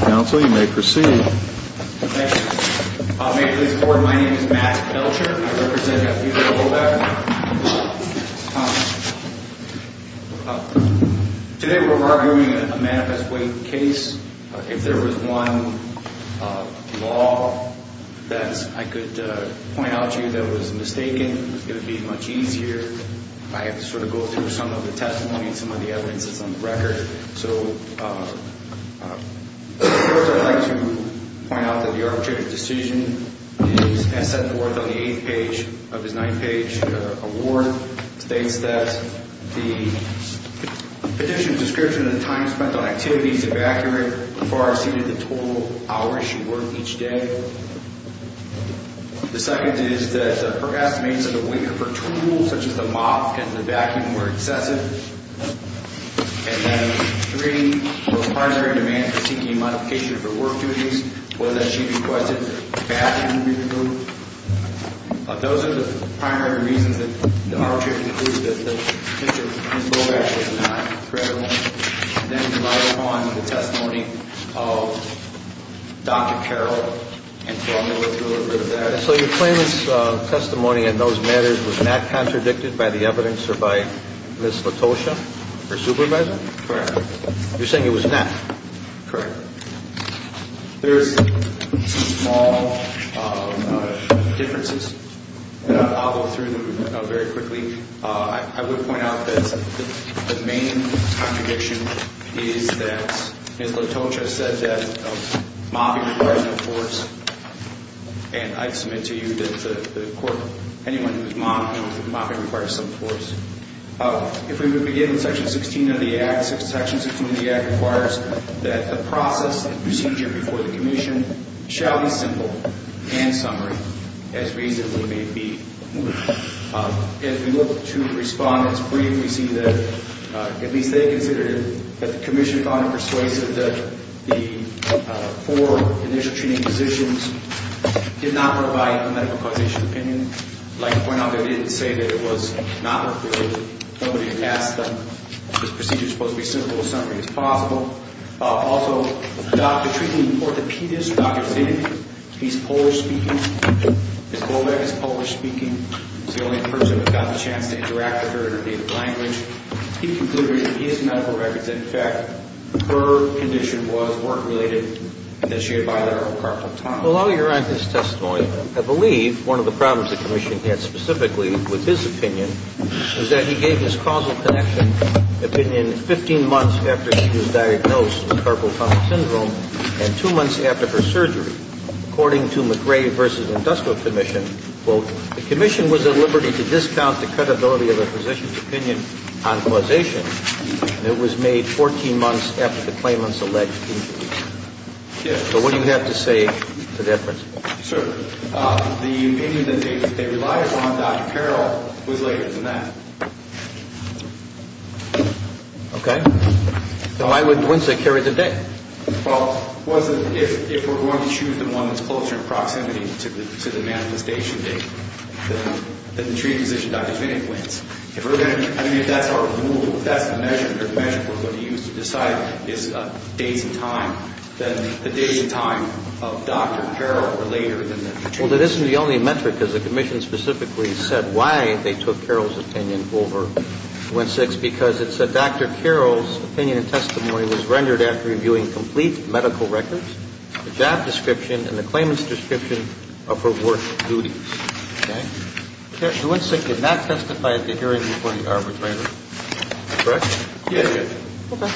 Council, you may proceed. Thank you. May it please the board, my name is Matt Belcher. I represent F.B.O.B.E.K. Today we're arguing a manifest weight case. If there was one law that I could point out to you that was mistaken, it would be much easier. I have to sort of go through some of the testimony and some of the evidence that's on the record. So, first I'd like to point out that the arbitrator's decision is as set forth on the eighth page of his ninth page award. It states that the petition's description of the time spent on activities is accurate as far as seeing the total hours she worked each day. The second is that her estimates of the weight of her tools such as the mop and the vacuum were excessive. And then three, was part of her demand for seeking a modification of her work duties. Whether she requested that the bathroom be removed. Those are the primary reasons that the arbitrator concluded that Ms. Bobek was not credible. And then we rely upon the testimony of Dr. Carroll. And so I'm going to go through a little bit of that. And so your claimant's testimony in those matters was not contradicted by the evidence or by Ms. Latosha, her supervisor? Correct. You're saying it was not? Correct. There's some small differences, and I'll go through them very quickly. I would point out that the main contradiction is that Ms. Latosha said that mopping requires no force. And I'd submit to you that the court, anyone who's mopping, mopping requires some force. If we would begin with Section 16 of the Act, Section 16 of the Act requires that the process and procedure before the commission shall be simple and summary, as reasonably may be. As we look to the respondents briefly, we see that at least they considered that the commission found it persuasive that the four initial treating positions did not provide medical causation opinion. I'd like to point out they didn't say that it was not workable. Nobody asked them. This procedure is supposed to be simple and summary as possible. Also, the treating orthopedist, Dr. Zinn, he's Polish-speaking. Ms. Boback is Polish-speaking. She's the only person who got the chance to interact with her in her native language. He concluded in his medical records that, in fact, her condition was work-related and that she had bilateral carpal tunnel. Well, while you're on his testimony, I believe one of the problems the commission had specifically with his opinion was that he gave his causal connection opinion 15 months after his diagnosis. And two months after her surgery, according to McRae v. Industrial Commission, quote, the commission was at liberty to discount the credibility of a physician's opinion on causation, and it was made 14 months after the claimant's alleged injury. So what do you have to say to that principle? Sir, the opinion that they relied upon, Dr. Carroll, was later than that. Okay. So why would Dwinsett carry the date? Well, if we're going to choose the one that's closer in proximity to the manifestation date, then the treating physician, Dr. Zinn, wins. I mean, if that's our rule, if that's the measure, the measure for what he used to decide is days and time, then the days and time of Dr. Carroll are later than the treating physician. Well, that isn't the only metric, because the commission specifically said why they took Carroll's opinion over Dwinsett's, because it said Dr. Carroll's opinion and testimony was rendered after reviewing complete medical records, the job description, and the claimant's description of her work duties. Okay. Dwinsett did not testify at the hearing before the arbitrator. Correct? Yes, Judge. Okay.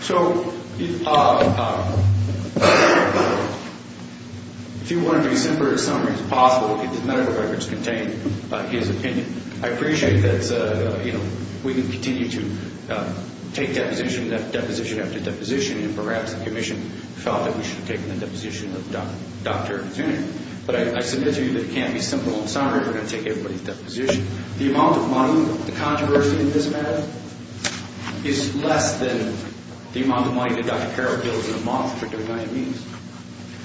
So if you want to be as simple a summary as possible, if the medical records contain his opinion, I appreciate that, you know, we can continue to take deposition after deposition, and perhaps the commission felt that we should have taken the deposition of Dr. Zinn. But I submit to you that it can't be a simple summary. We're going to take everybody's deposition. The amount of money, the controversy in this matter, is less than the amount of money that Dr. Carroll bills in a month for doing diabetes.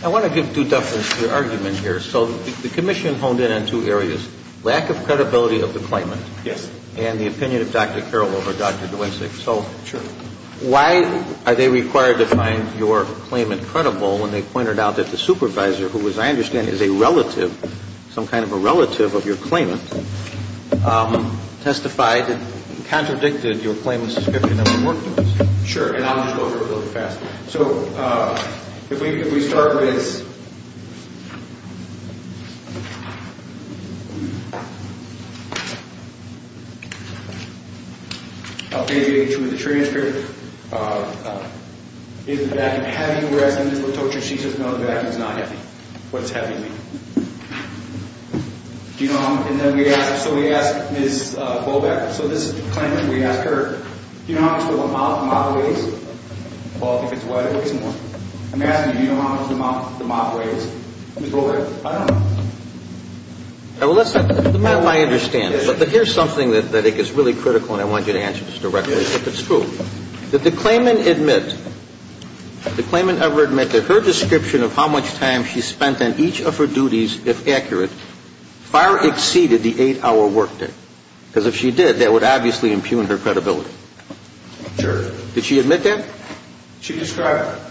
I want to give due deference to your argument here. So the commission honed in on two areas, lack of credibility of the claimant and the opinion of Dr. Carroll over Dr. Dwinsett. So why are they required to find your claimant credible when they pointed out that the supervisor, who as I understand is a relative, some kind of a relative of your claimant, testified and contradicted your claimant's description of the work done? Sure. And I'll just go over it really fast. So if we start with this. Page 82 of the transcript. Is the vacuum heavy? We're asking Ms. Latoccia. She says no, the vacuum is not heavy. What does heavy mean? Do you know how much? And then we ask Ms. Boback. So this is the claimant. We ask her, do you know how much the mop weighs? I'm asking you, do you know how much the mop weighs? Ms. Boback. I don't know. Now, listen, the mop I understand. But here's something that I think is really critical and I want you to answer this directly if it's true. Did the claimant admit, did the claimant ever admit that her description of how much time she spent on each of her duties, if accurate, far exceeded the eight-hour work day? Because if she did, that would obviously impugn her credibility. Sure. Did she admit that? She described it.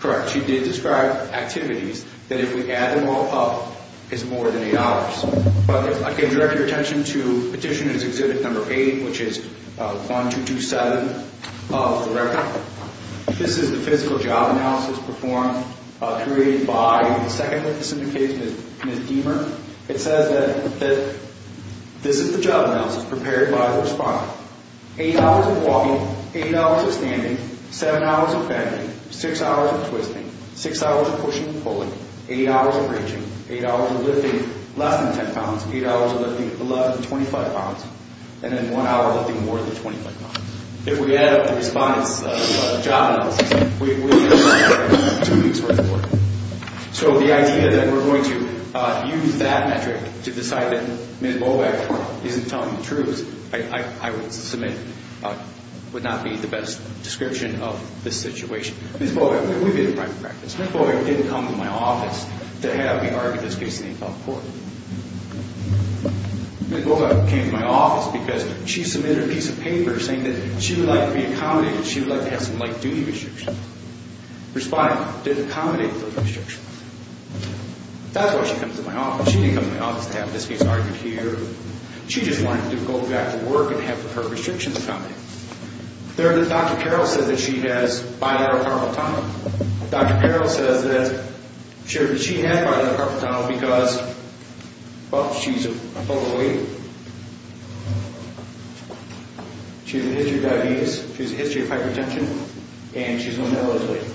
Correct. But she did describe activities that if we add them all up is more than eight hours. But I'd like to direct your attention to Petitioner's Exhibit Number 8, which is 1227 of the record. This is the physical job analysis performed, created by the second witness in the case, Ms. Deamer. It says that this is the job analysis prepared by the respondent. Eight hours of walking. Eight hours of standing. Seven hours of bending. Six hours of twisting. Six hours of pushing and pulling. Eight hours of reaching. Eight hours of lifting less than 10 pounds. Eight hours of lifting less than 25 pounds. And then one hour of lifting more than 25 pounds. If we add up the respondent's job analysis, we get two weeks worth of work. So the idea that we're going to use that metric to decide that Ms. Boback isn't telling the truth, I would submit, would not be the best description of this situation. Ms. Boback, we've been in private practice. Ms. Boback didn't come to my office to have me argue this case in the appellate court. Ms. Boback came to my office because she submitted a piece of paper saying that she would like to be accommodated. She would like to have some light duty restrictions. Respondent did accommodate those restrictions. That's why she comes to my office. She didn't come to my office to have this case argued here. She just wanted to go back to work and have her restrictions accommodated. Dr. Carroll says that she has bilateral carpal tunnel. Dr. Carroll says that she has bilateral carpal tunnel because, well, she's a photo lawyer. She has a history of diabetes. She has a history of hypertension. And she's going to LA today.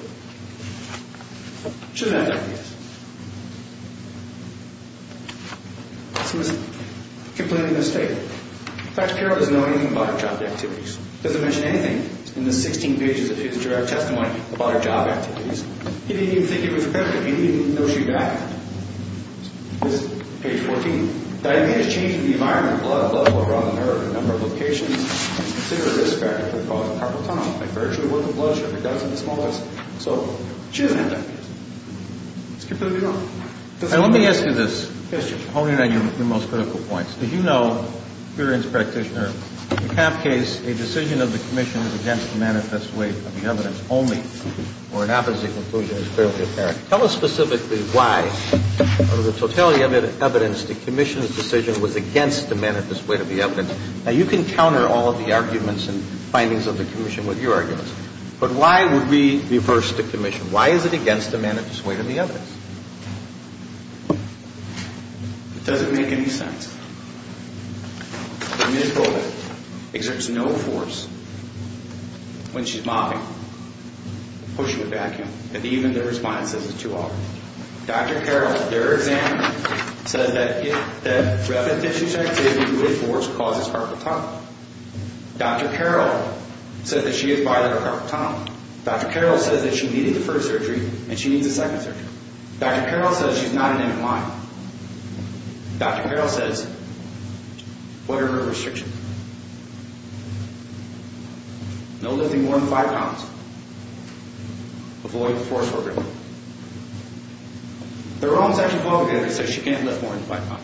She doesn't have diabetes. So it's a complete mistake. Dr. Carroll doesn't know anything about her job activities. He doesn't mention anything in the 16 pages of his direct testimony about her job activities. He didn't even think it was correct. He didn't even know she died. This is page 14. Diabetes changes the environment. A lot of blood flow around the nerve in a number of locations. Consider a risk factor for the cause of carpal tunnel. It's very true with the bloodstream. It does in the small intestine. So she doesn't have diabetes. Let's keep moving on. Let me ask you this. Yes, Judge. Honing on your most critical points. Did you know, curious practitioner, in the CAP case, a decision of the commission is against the manifest weight of the evidence only, or it happens that the conclusion is fairly apparent? Tell us specifically why, out of the totality of the evidence, the commission's decision was against the manifest weight of the evidence. Now, you can counter all of the arguments and findings of the commission with your arguments, but why would we reverse the commission? Why is it against the manifest weight of the evidence? It doesn't make any sense. Dr. Carroll, their examiner, said that rapid tissue secretion with force causes carpal tunnel. Dr. Carroll said that she has bilateral carpal tunnel. Dr. Carroll said that she needed the first surgery, and she needs a second surgery. Dr. Carroll says she's not in any line. Dr. Carroll says, what are her restrictions? No lifting more than 5 pounds. Avoid the force work. The wrong section of the law says she can't lift more than 5 pounds.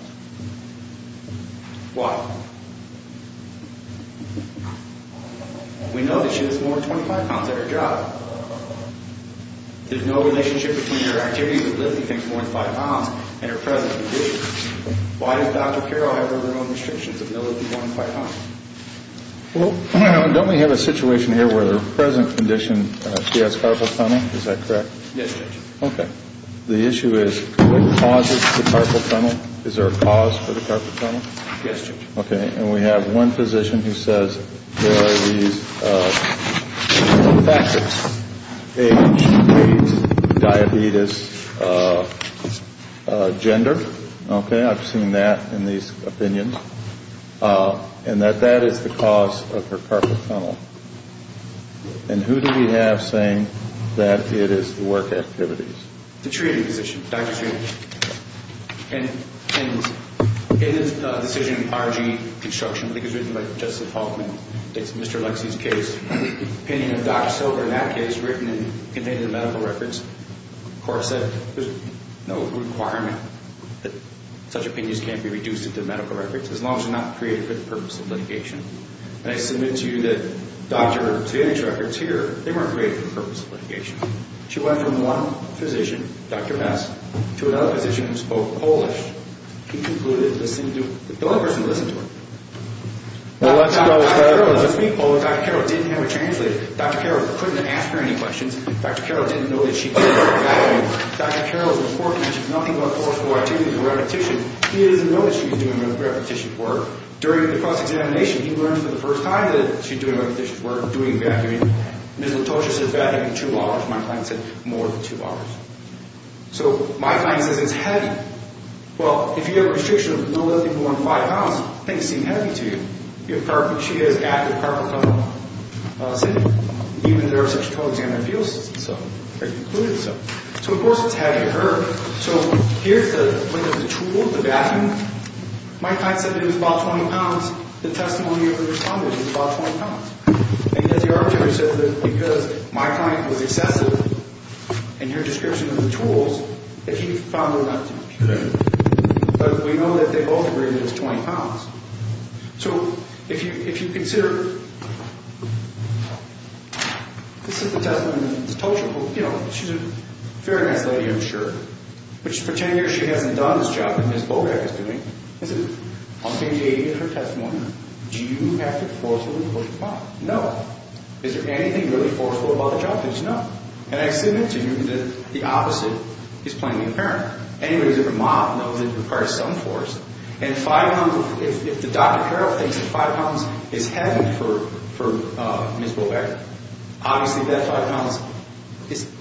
Why? We know that she lifts more than 25 pounds at her job. There's no relationship between her activity with lifting things more than 5 pounds and her present condition. Why does Dr. Carroll have her restrictions of no lifting more than 5 pounds? Well, don't we have a situation here where the present condition, she has carpal tunnel? Is that correct? Yes, Judge. Okay. The issue is, what causes the carpal tunnel? Is there a cause for the carpal tunnel? Yes, Judge. Okay. And we have one physician who says there are these factors. A, she has diabetes. Gender. Okay, I've seen that in these opinions. And that that is the cause of her carpal tunnel. And who do we have saying that it is the work activities? The treating physician, Dr. Treatment. And in this decision, R.G. Construction, I think it was written by Justice Hoffman, it's Mr. Lexie's case, opinion of Dr. Silver in that case written and contained in the medical records, of course there's no requirement that such opinions can't be reduced into medical records, as long as they're not created for the purpose of litigation. And I submit to you that Dr. Treatment's records here, they weren't created for the purpose of litigation. She went from one physician, Dr. Mess, to another physician who spoke Polish. He concluded that the other person listened to her. Dr. Carroll didn't speak Polish, Dr. Carroll didn't have a translator. Dr. Carroll couldn't ask her any questions. Dr. Carroll didn't know that she did work in a vacuum. Dr. Carroll's report mentions nothing but forceful activity and repetition. He doesn't know that she's doing repetition work. During the cross-examination, he learns for the first time that she's doing repetition work, doing vacuuming. Ms. Latosha said vacuuming two hours. My client said more than two hours. So my client says it's heavy. Well, if you have a restriction of no less than 1.5 pounds, things seem heavy to you. She has active carpal tunnel syndrome. Even though there are such total examiner appeals, they concluded so. So of course it's heavy to her. So here's the length of the tool, the vacuum. My client said it was about 20 pounds. The testimony of the respondent was about 20 pounds. And yet the arbitrator said that because my client was excessive in her description of the tools, that he found them not to be heavy. But we know that they both agreed that it's 20 pounds. So if you consider, this is the testimony of Ms. Latosha. You know, she's a very nice lady, I'm sure. But she's pretending she hasn't done this job that Ms. Bogach is doing. On page 80 of her testimony, do you have to forcefully push the button? No. Is there anything really forceful about the job? No. And I submit to you that the opposite is plainly apparent. Anyways, if a mom knows it requires some force, and if Dr. Carroll thinks that 5 pounds is heavy for Ms. Bogach, obviously that 5 pounds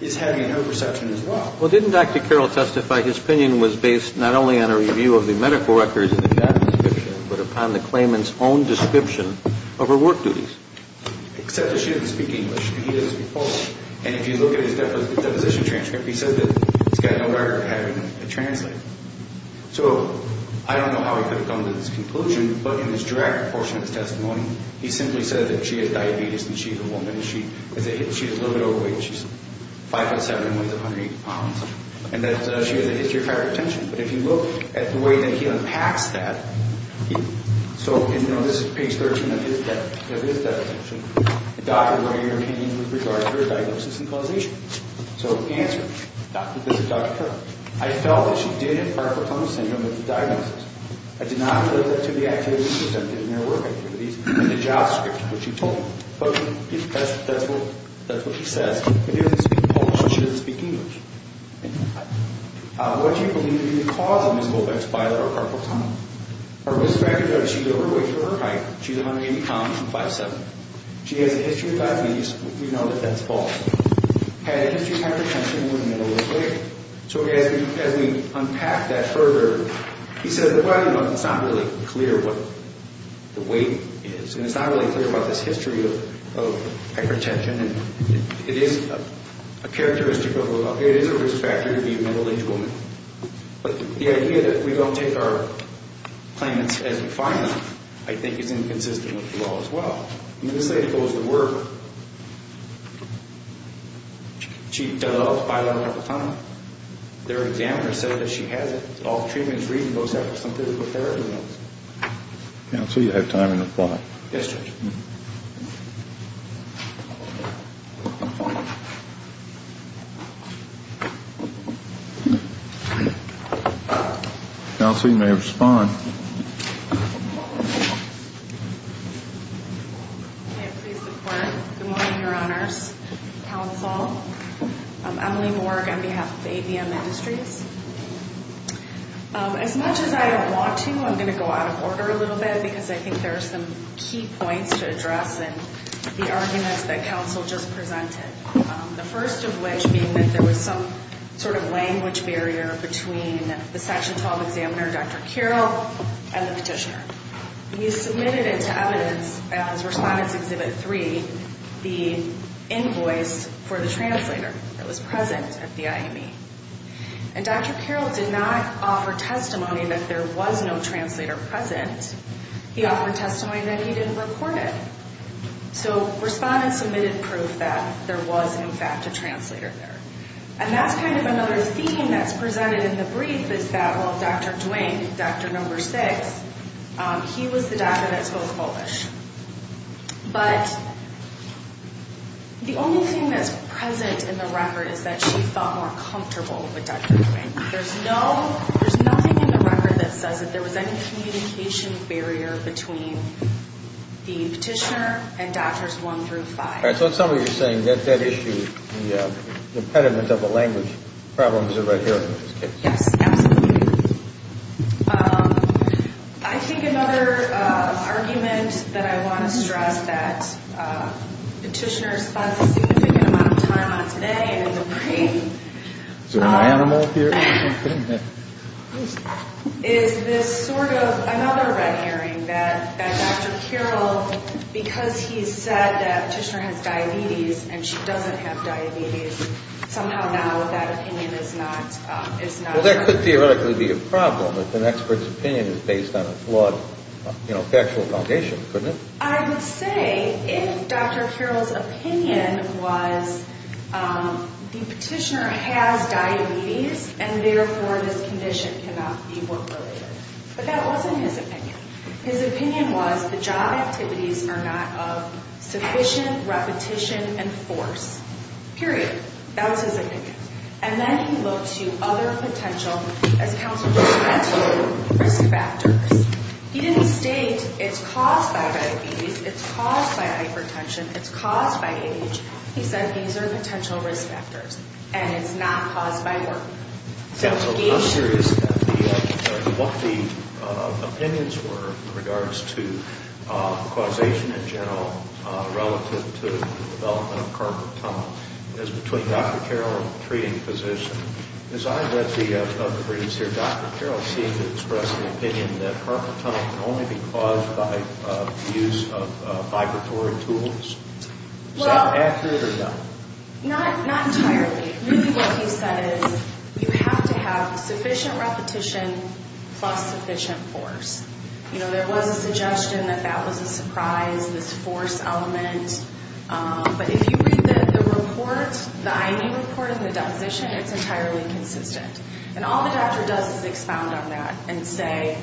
is heavy in her perception as well. Well, didn't Dr. Carroll testify his opinion was based not only on a review of the medical records in the past description, but upon the claimant's own description of her work duties? Except that she didn't speak English. He didn't speak Polish. And if you look at his deposition transcript, he said that he's got no record of having a translator. So I don't know how he could have come to this conclusion. But in his direct portion of his testimony, he simply said that she has diabetes and she's a woman. She's a little bit overweight. She's 5 foot 7 and weighs 180 pounds. And that she has a history of hypertension. But if you look at the way that he unpacks that, so this is page 13 of his deposition. The doctor, what are your opinions with regard to her diagnosis and causation? So answer me. This is Dr. Carroll. I felt that she did have Parkinson's syndrome in the diagnosis. I did not refer that to the activities she attempted in her work activities in the job script which she told me. But that's what he says. She didn't speak Polish. She didn't speak English. What do you believe to be the cause of Ms. Goldbeck's bilateral carpal tunnel? Our risk factors are that she's overweight for her height. She's 180 pounds and 5'7". She has a history of diabetes. We know that that's false. Had a history of hypertension and was a middleweight. So as we unpack that further, he said, well, you know, it's not really clear what the weight is. And it's not really clear about this history of hypertension. And it is a risk factor to be a middle-aged woman. But the idea that we don't take our claimants as defined, I think, is inconsistent with the law as well. I mean, this lady goes to work. She does bilateral carpal tunnel. Their examiner said that she has it. All treatment is reasonable except for some physical therapy notes. Counsel, you have time in the floor. Yes, Judge. Counsel, you may respond. May I please report? Good morning, Your Honors. Counsel, Emily Morg on behalf of ABM Industries. As much as I don't want to, I'm going to go out of order a little bit because I think there are some key points to address in the arguments that counsel just presented. The first of which being that there was some sort of language barrier between the Section 12 examiner, Dr. Carroll, and the petitioner. We submitted it to evidence as Respondents Exhibit 3, the invoice for the translator that was present at the IME. And Dr. Carroll did not offer testimony that there was no translator present. He offered testimony that he didn't report it. So Respondents submitted proof that there was, in fact, a translator there. And that's kind of another theme that's presented in the brief is that, well, Dr. Duane, Dr. No. 6, he was the doctor that spoke Polish. But the only thing that's present in the record is that she felt more comfortable with Dr. Duane. There's nothing in the record that says that there was any communication barrier between the petitioner and Doctors 1 through 5. All right. So in summary, you're saying that issue, the impediment of the language problems are right here in this case. Yes. Absolutely. I think another argument that I want to stress that petitioners spent a significant amount of time on today and in the brief is this sort of another red herring, that Dr. Carroll, because he said that Petitioner has diabetes and she doesn't have diabetes, somehow now that opinion is not. Well, that could theoretically be a problem if an expert's opinion is based on a flawed factual foundation, couldn't it? I would say if Dr. Carroll's opinion was the petitioner has diabetes and therefore this condition cannot be work-related. But that wasn't his opinion. His opinion was the job activities are not of sufficient repetition and force, period. That was his opinion. And then he looked to other potential, as counsel just mentioned, risk factors. He didn't state it's caused by diabetes, it's caused by hypertension, it's caused by age. He said these are potential risk factors and it's not caused by work. Counsel, I'm curious what the opinions were in regards to causation in general relative to the development of carpal tunnel. It's between Dr. Carroll and the treating physician. As I read the briefs here, Dr. Carroll seemed to express the opinion that carpal tunnel can only be caused by use of vibratory tools. Is that accurate or not? Not entirely. Really what he said is you have to have sufficient repetition plus sufficient force. You know, there was a suggestion that that was a surprise, this force element. But if you read the report, the I.D. report and the deposition, it's entirely consistent. And all the doctor does is expound on that and say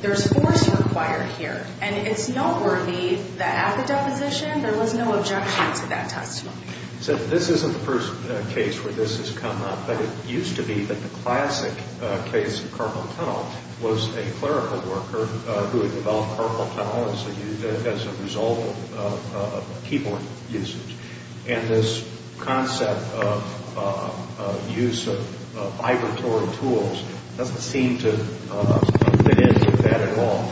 there's force required here. And it's noteworthy that at the deposition there was no objection to that testimony. So this isn't the first case where this has come up, but it used to be that the classic case of carpal tunnel was a clerical worker who had developed carpal tunnel as a result of keyboard usage. And this concept of use of vibratory tools doesn't seem to fit into that at all.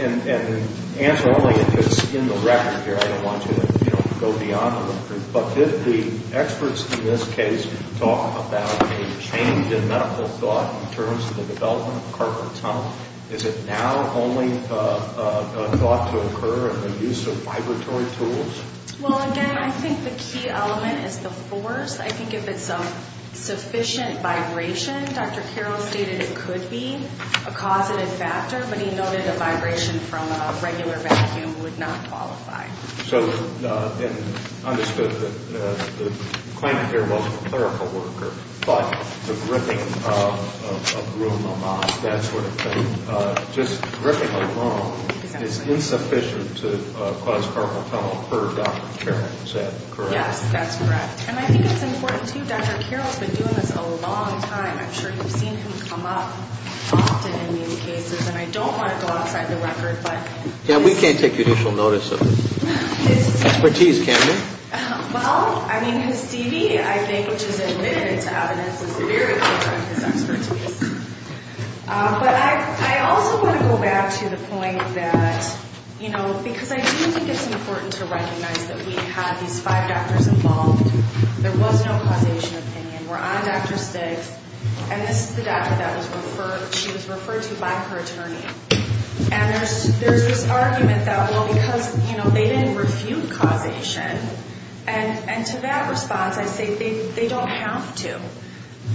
And the answer only if it's in the record here. I don't want you to, you know, go beyond the brief. But did the experts in this case talk about a change in medical thought in terms of the development of carpal tunnel? Is it now only thought to occur in the use of vibratory tools? Well, again, I think the key element is the force. I think if it's a sufficient vibration, Dr. Carroll stated it could be a causative factor, but he noted a vibration from a regular vacuum would not qualify. So it's understood that the claimant here wasn't a clerical worker, but the gripping of a broom, a mop, that sort of thing. Just gripping alone is insufficient to cause carpal tunnel, per Dr. Carroll. Is that correct? Yes, that's correct. And I think it's important, too. Dr. Carroll has been doing this a long time. I'm sure you've seen him come up often in these cases. And I don't want to go outside the record, but... Yeah, we can't take judicial notice of it. Expertise, can we? Well, I mean, his DV, I think, which is admitted to evidence, is very clear of his expertise. But I also want to go back to the point that, you know, because I do think it's important to recognize that we had these five doctors involved. There was no causation opinion. We're on Dr. Stig's, and this is the doctor that she was referred to by her attorney. And there's this argument that, well, because, you know, they didn't refute causation. And to that response, I say they don't have to.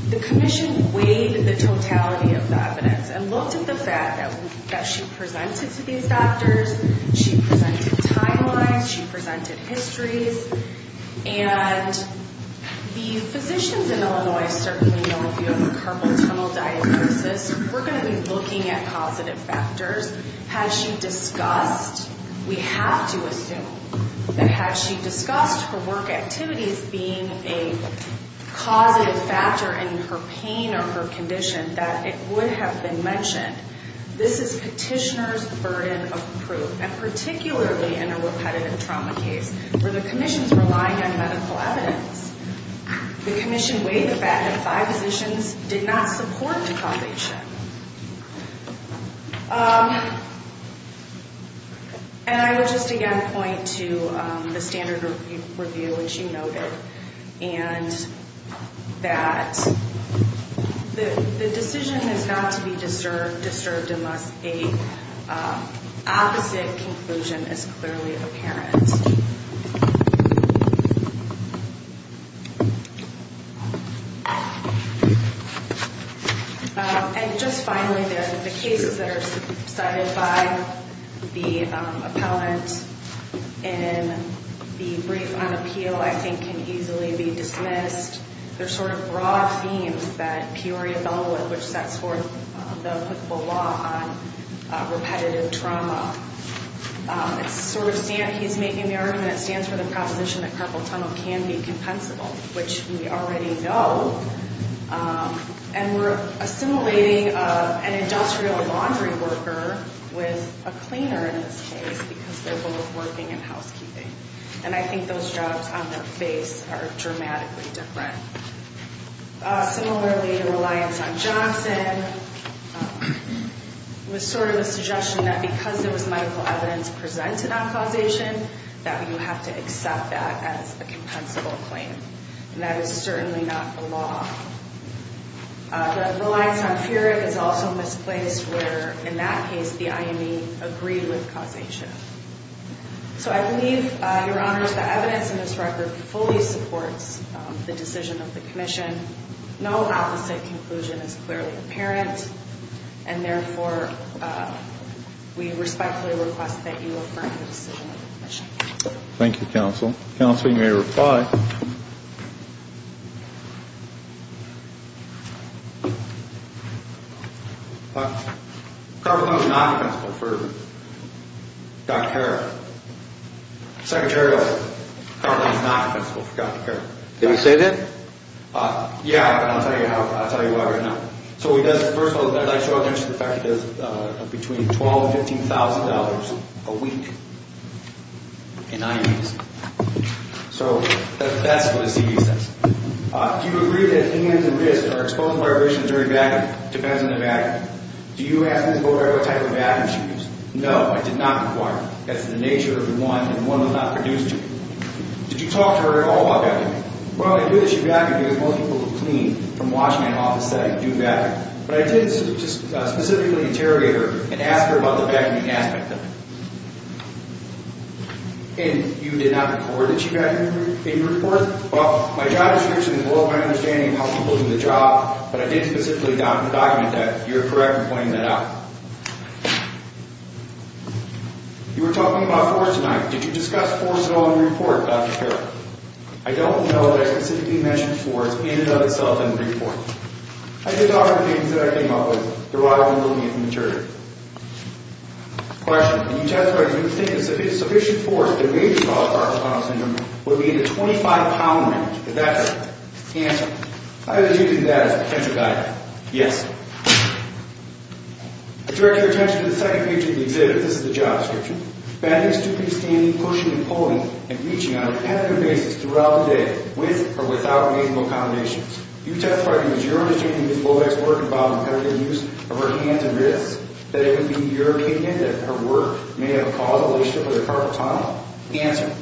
The commission weighed the totality of the evidence and looked at the fact that she presented to these doctors. She presented timelines. She presented histories. And the physicians in Illinois certainly know, if you have a carpal tunnel diagnosis, we're going to be looking at causative factors. Had she discussed, we have to assume, that had she discussed her work activities being a causative factor in her pain or her condition, that it would have been mentioned. This is petitioner's burden of proof, and particularly in a repetitive trauma case. Were the commissions relying on medical evidence? The commission weighed the fact that five physicians did not support causation. And I would just again point to the standard review, which you noted, and that the decision is not to be disturbed unless an opposite conclusion is clearly apparent. And just finally, the cases that are cited by the appellant in the brief on appeal, I think, can easily be dismissed. They're sort of broad themes that Peoria Bellwood, which sets forth the law on repetitive trauma. He's making the argument that it stands for the proposition that carpal tunnel can be compensable, which we already know. And we're assimilating an industrial laundry worker with a cleaner in this case because they're both working in housekeeping. And I think those jobs on their face are dramatically different. Similarly, the reliance on Johnson was sort of a suggestion that because there was medical evidence presented on causation, that you have to accept that as a compensable claim. And that is certainly not the law. The reliance on Feerick is also misplaced where, in that case, the IME agreed with causation. So I believe, Your Honors, that evidence in this record fully supports the decision of the commission. No opposite conclusion is clearly apparent. And therefore, we respectfully request that you affirm the decision of the commission. Thank you, Counsel. Counsel, you may reply. Carpal tunnel is not compensable for Dr. Carroll. Secretary, carpal tunnel is not compensable for Dr. Carroll. Did he say that? Yeah, and I'll tell you why right now. First of all, I'd like to draw attention to the fact that there's between $12,000 and $15,000 a week in IMEs. So that's what his CV says. Do you agree that IMEs and risks are exposed to vibrations during vacuuming? Depends on the vacuum. Do you ask Ms. Bowder what type of vacuum she used? No, I did not require it. That's the nature of the one, and one will not produce two. Did you talk to her at all about vacuuming? Well, I knew that she vacuumed because most people who clean, from washing and off the set, do vacuum. But I did just specifically interrogate her and ask her about the vacuuming aspect of it. And you did not report that she vacuumed in your report? Well, my job is to involve my understanding of how people do the job, but I did specifically document that. You're correct in pointing that out. You were talking about force tonight. Did you discuss force at all in your report, Dr. Carroll? I don't know that I specifically mentioned force in and of itself in the report. I did talk about the things that I came up with. There was a lot I was looking at from the jury. Question. Did you testify that you think a sufficient force to raise your daughter's spinal syndrome would be in the 25-pound range? If that's it, answer. I would have taken that as a potential guide. Yes. I direct your attention to the second page of the exhibit. This is the job description. Bathing, stooping, standing, pushing and pulling, and reaching on a repetitive basis throughout the day, with or without reasonable accommodations. You testified that your understanding of Loewe's work involved imperative use of her hands and wrists, that it would be your opinion that her work may have caused a relationship with a carpal tunnel. Answer.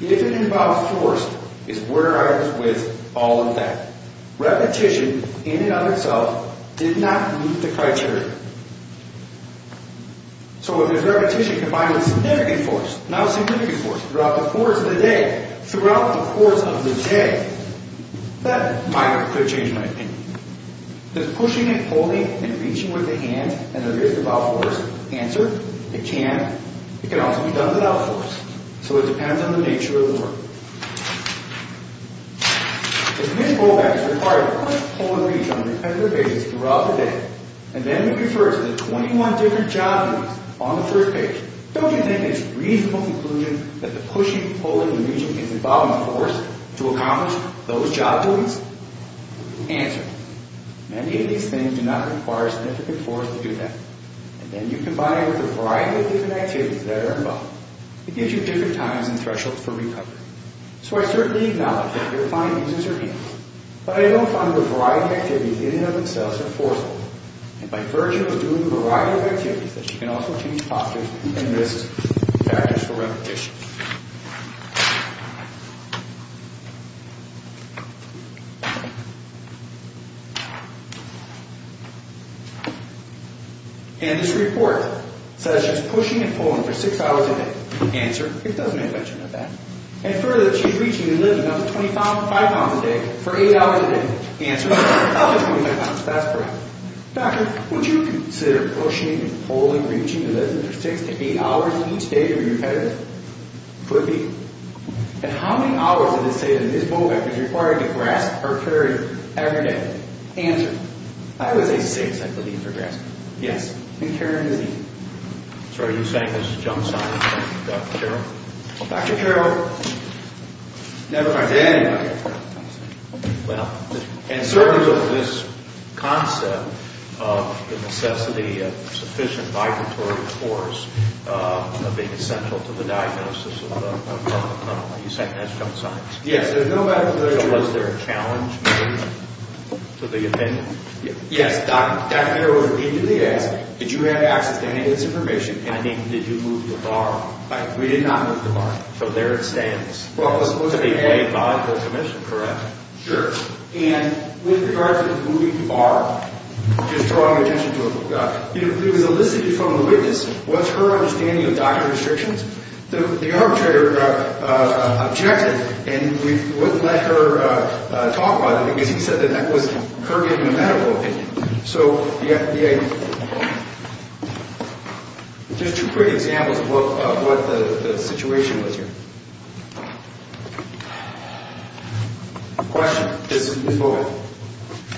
If it involves force, it's where I was with all of that. Repetition in and of itself did not meet the criteria. So if there's repetition combined with significant force, not significant force, throughout the course of the day, throughout the course of the day, that might or could change my opinion. Does pushing and pulling and reaching with the hands and wrists involve force? Answer. It can. It can also be done without force. So it depends on the nature of the work. If this rollback is required to push, pull, and reach on a repetitive basis throughout the day, and then we refer to the 21 different job needs on the third page, don't you think it's a reasonable conclusion that the pushing, pulling, and reaching is involving force to accomplish those job needs? Answer. Many of these things do not require significant force to do that. And then you combine it with a variety of different activities that are involved. It gives you different times and thresholds for recovery. So I certainly acknowledge that your client uses her hands, but I don't find the variety of activities in and of themselves are forceful. And by virtue of doing a variety of activities, that she can also change postures and wrists in practice for repetition. And this report says she's pushing and pulling for six hours a day. Answer. It doesn't mention that. And further, she's reaching and lifting up to 25 pounds a day for eight hours a day. Answer. That's correct. Doctor, would you consider pushing and pulling, reaching, and lifting for six to eight hours each day to be repetitive? Could be. And how many hours of this data in this mobile app is required to grasp or carry every day? Answer. I would say six, I believe, for grasping. Yes. And Karen, is he? Sorry, are you saying this is a jump sign, Dr. Carroll? Dr. Carroll, never mind. Well, and certainly with this concept of the necessity of sufficient vibratory force being essential to the diagnosis of the problem, are you saying that's jump signs? Yes. So was there a challenge to the opinion? Yes. Dr. Carroll immediately asked, did you have access to any of this information? I mean, did you move the bar? We did not move the bar. Well, it was supposed to be played by the commission, correct? Sure. And with regards to the moving the bar, just drawing attention to it, it was elicited from the witness, was her understanding of doctor restrictions. The arbitrator objected, and we wouldn't let her talk about it because he said that that was her giving a medical opinion. So, just two quick examples of what the situation was here. Question. This is both.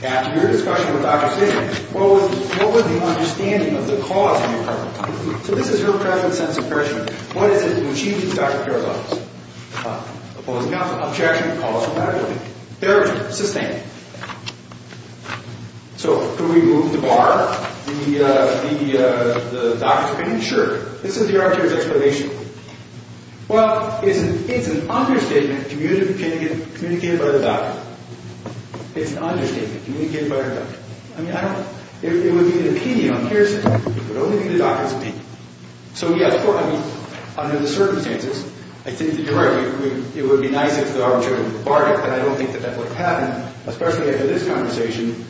After your discussion with Dr. Stiglitz, what was the understanding of the cause of your problem? So this is her present sense of pressure. What is it when she sees Dr. Carroll's office? Opposing counsel. Objection. Calls for medical opinion. Therapy. Sustained. So, could we move the bar? The doctor's opinion? Sure. This is the arbitrator's explanation. Well, it's an understatement communicated by the doctor. It's an understatement communicated by our doctor. I mean, I don't... It would be an opinion. Here's... It would only be the doctor's opinion. So, yes, of course, I mean, under the circumstances, I think that you're right. It would be nice if the arbitrator would bar it, but I don't think that that would have happened, especially after this conversation.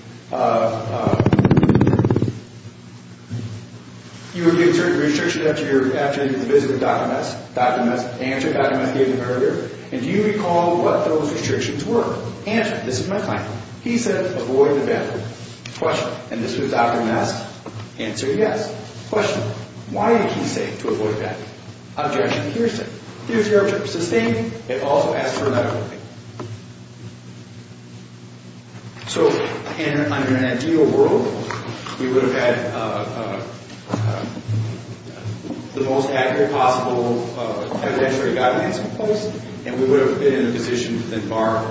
You were given certain restrictions after your visit with Dr. Ness. Dr. Ness answered. Dr. Ness gave them earlier. And do you recall what those restrictions were? Answer. This is my client. He said avoid the bathroom. Question. And this was Dr. Ness. Answer yes. Question. Why did he say to avoid the bathroom? Objection. Here's the... Here's your objection. Sustained. It also asks for a medical opinion. So, in an ideal world, we would have had the most accurate possible evidentiary guidance in place, and we would have been in a position to then bar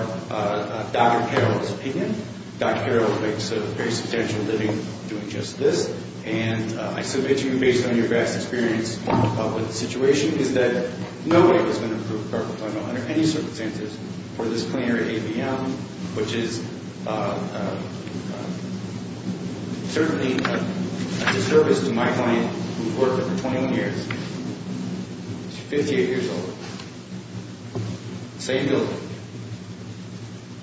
Dr. Carroll's opinion. Dr. Carroll makes a very substantial living doing just this. And I submit to you, based on your vast experience with the situation, is that no way has been approved for carpal tunnel under any circumstances for this planer at ABM, which is certainly a disservice to my client, who worked there for 21 years. She's 58 years old. Same building.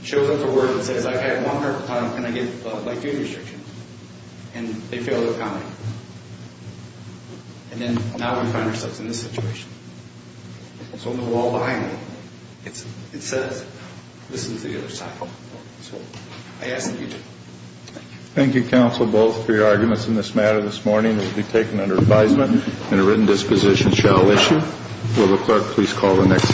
Shows up for work and says, I've had one carpal tunnel, can I get my due restrictions? And they fail to comment. And then now we find ourselves in this situation. It's on the wall behind me. It says, this is the other side. So, I ask that you do. Thank you. Thank you, counsel, both, for your arguments in this matter. This morning will be taken under advisement, and a written disposition shall issue. Will the clerk please call the next...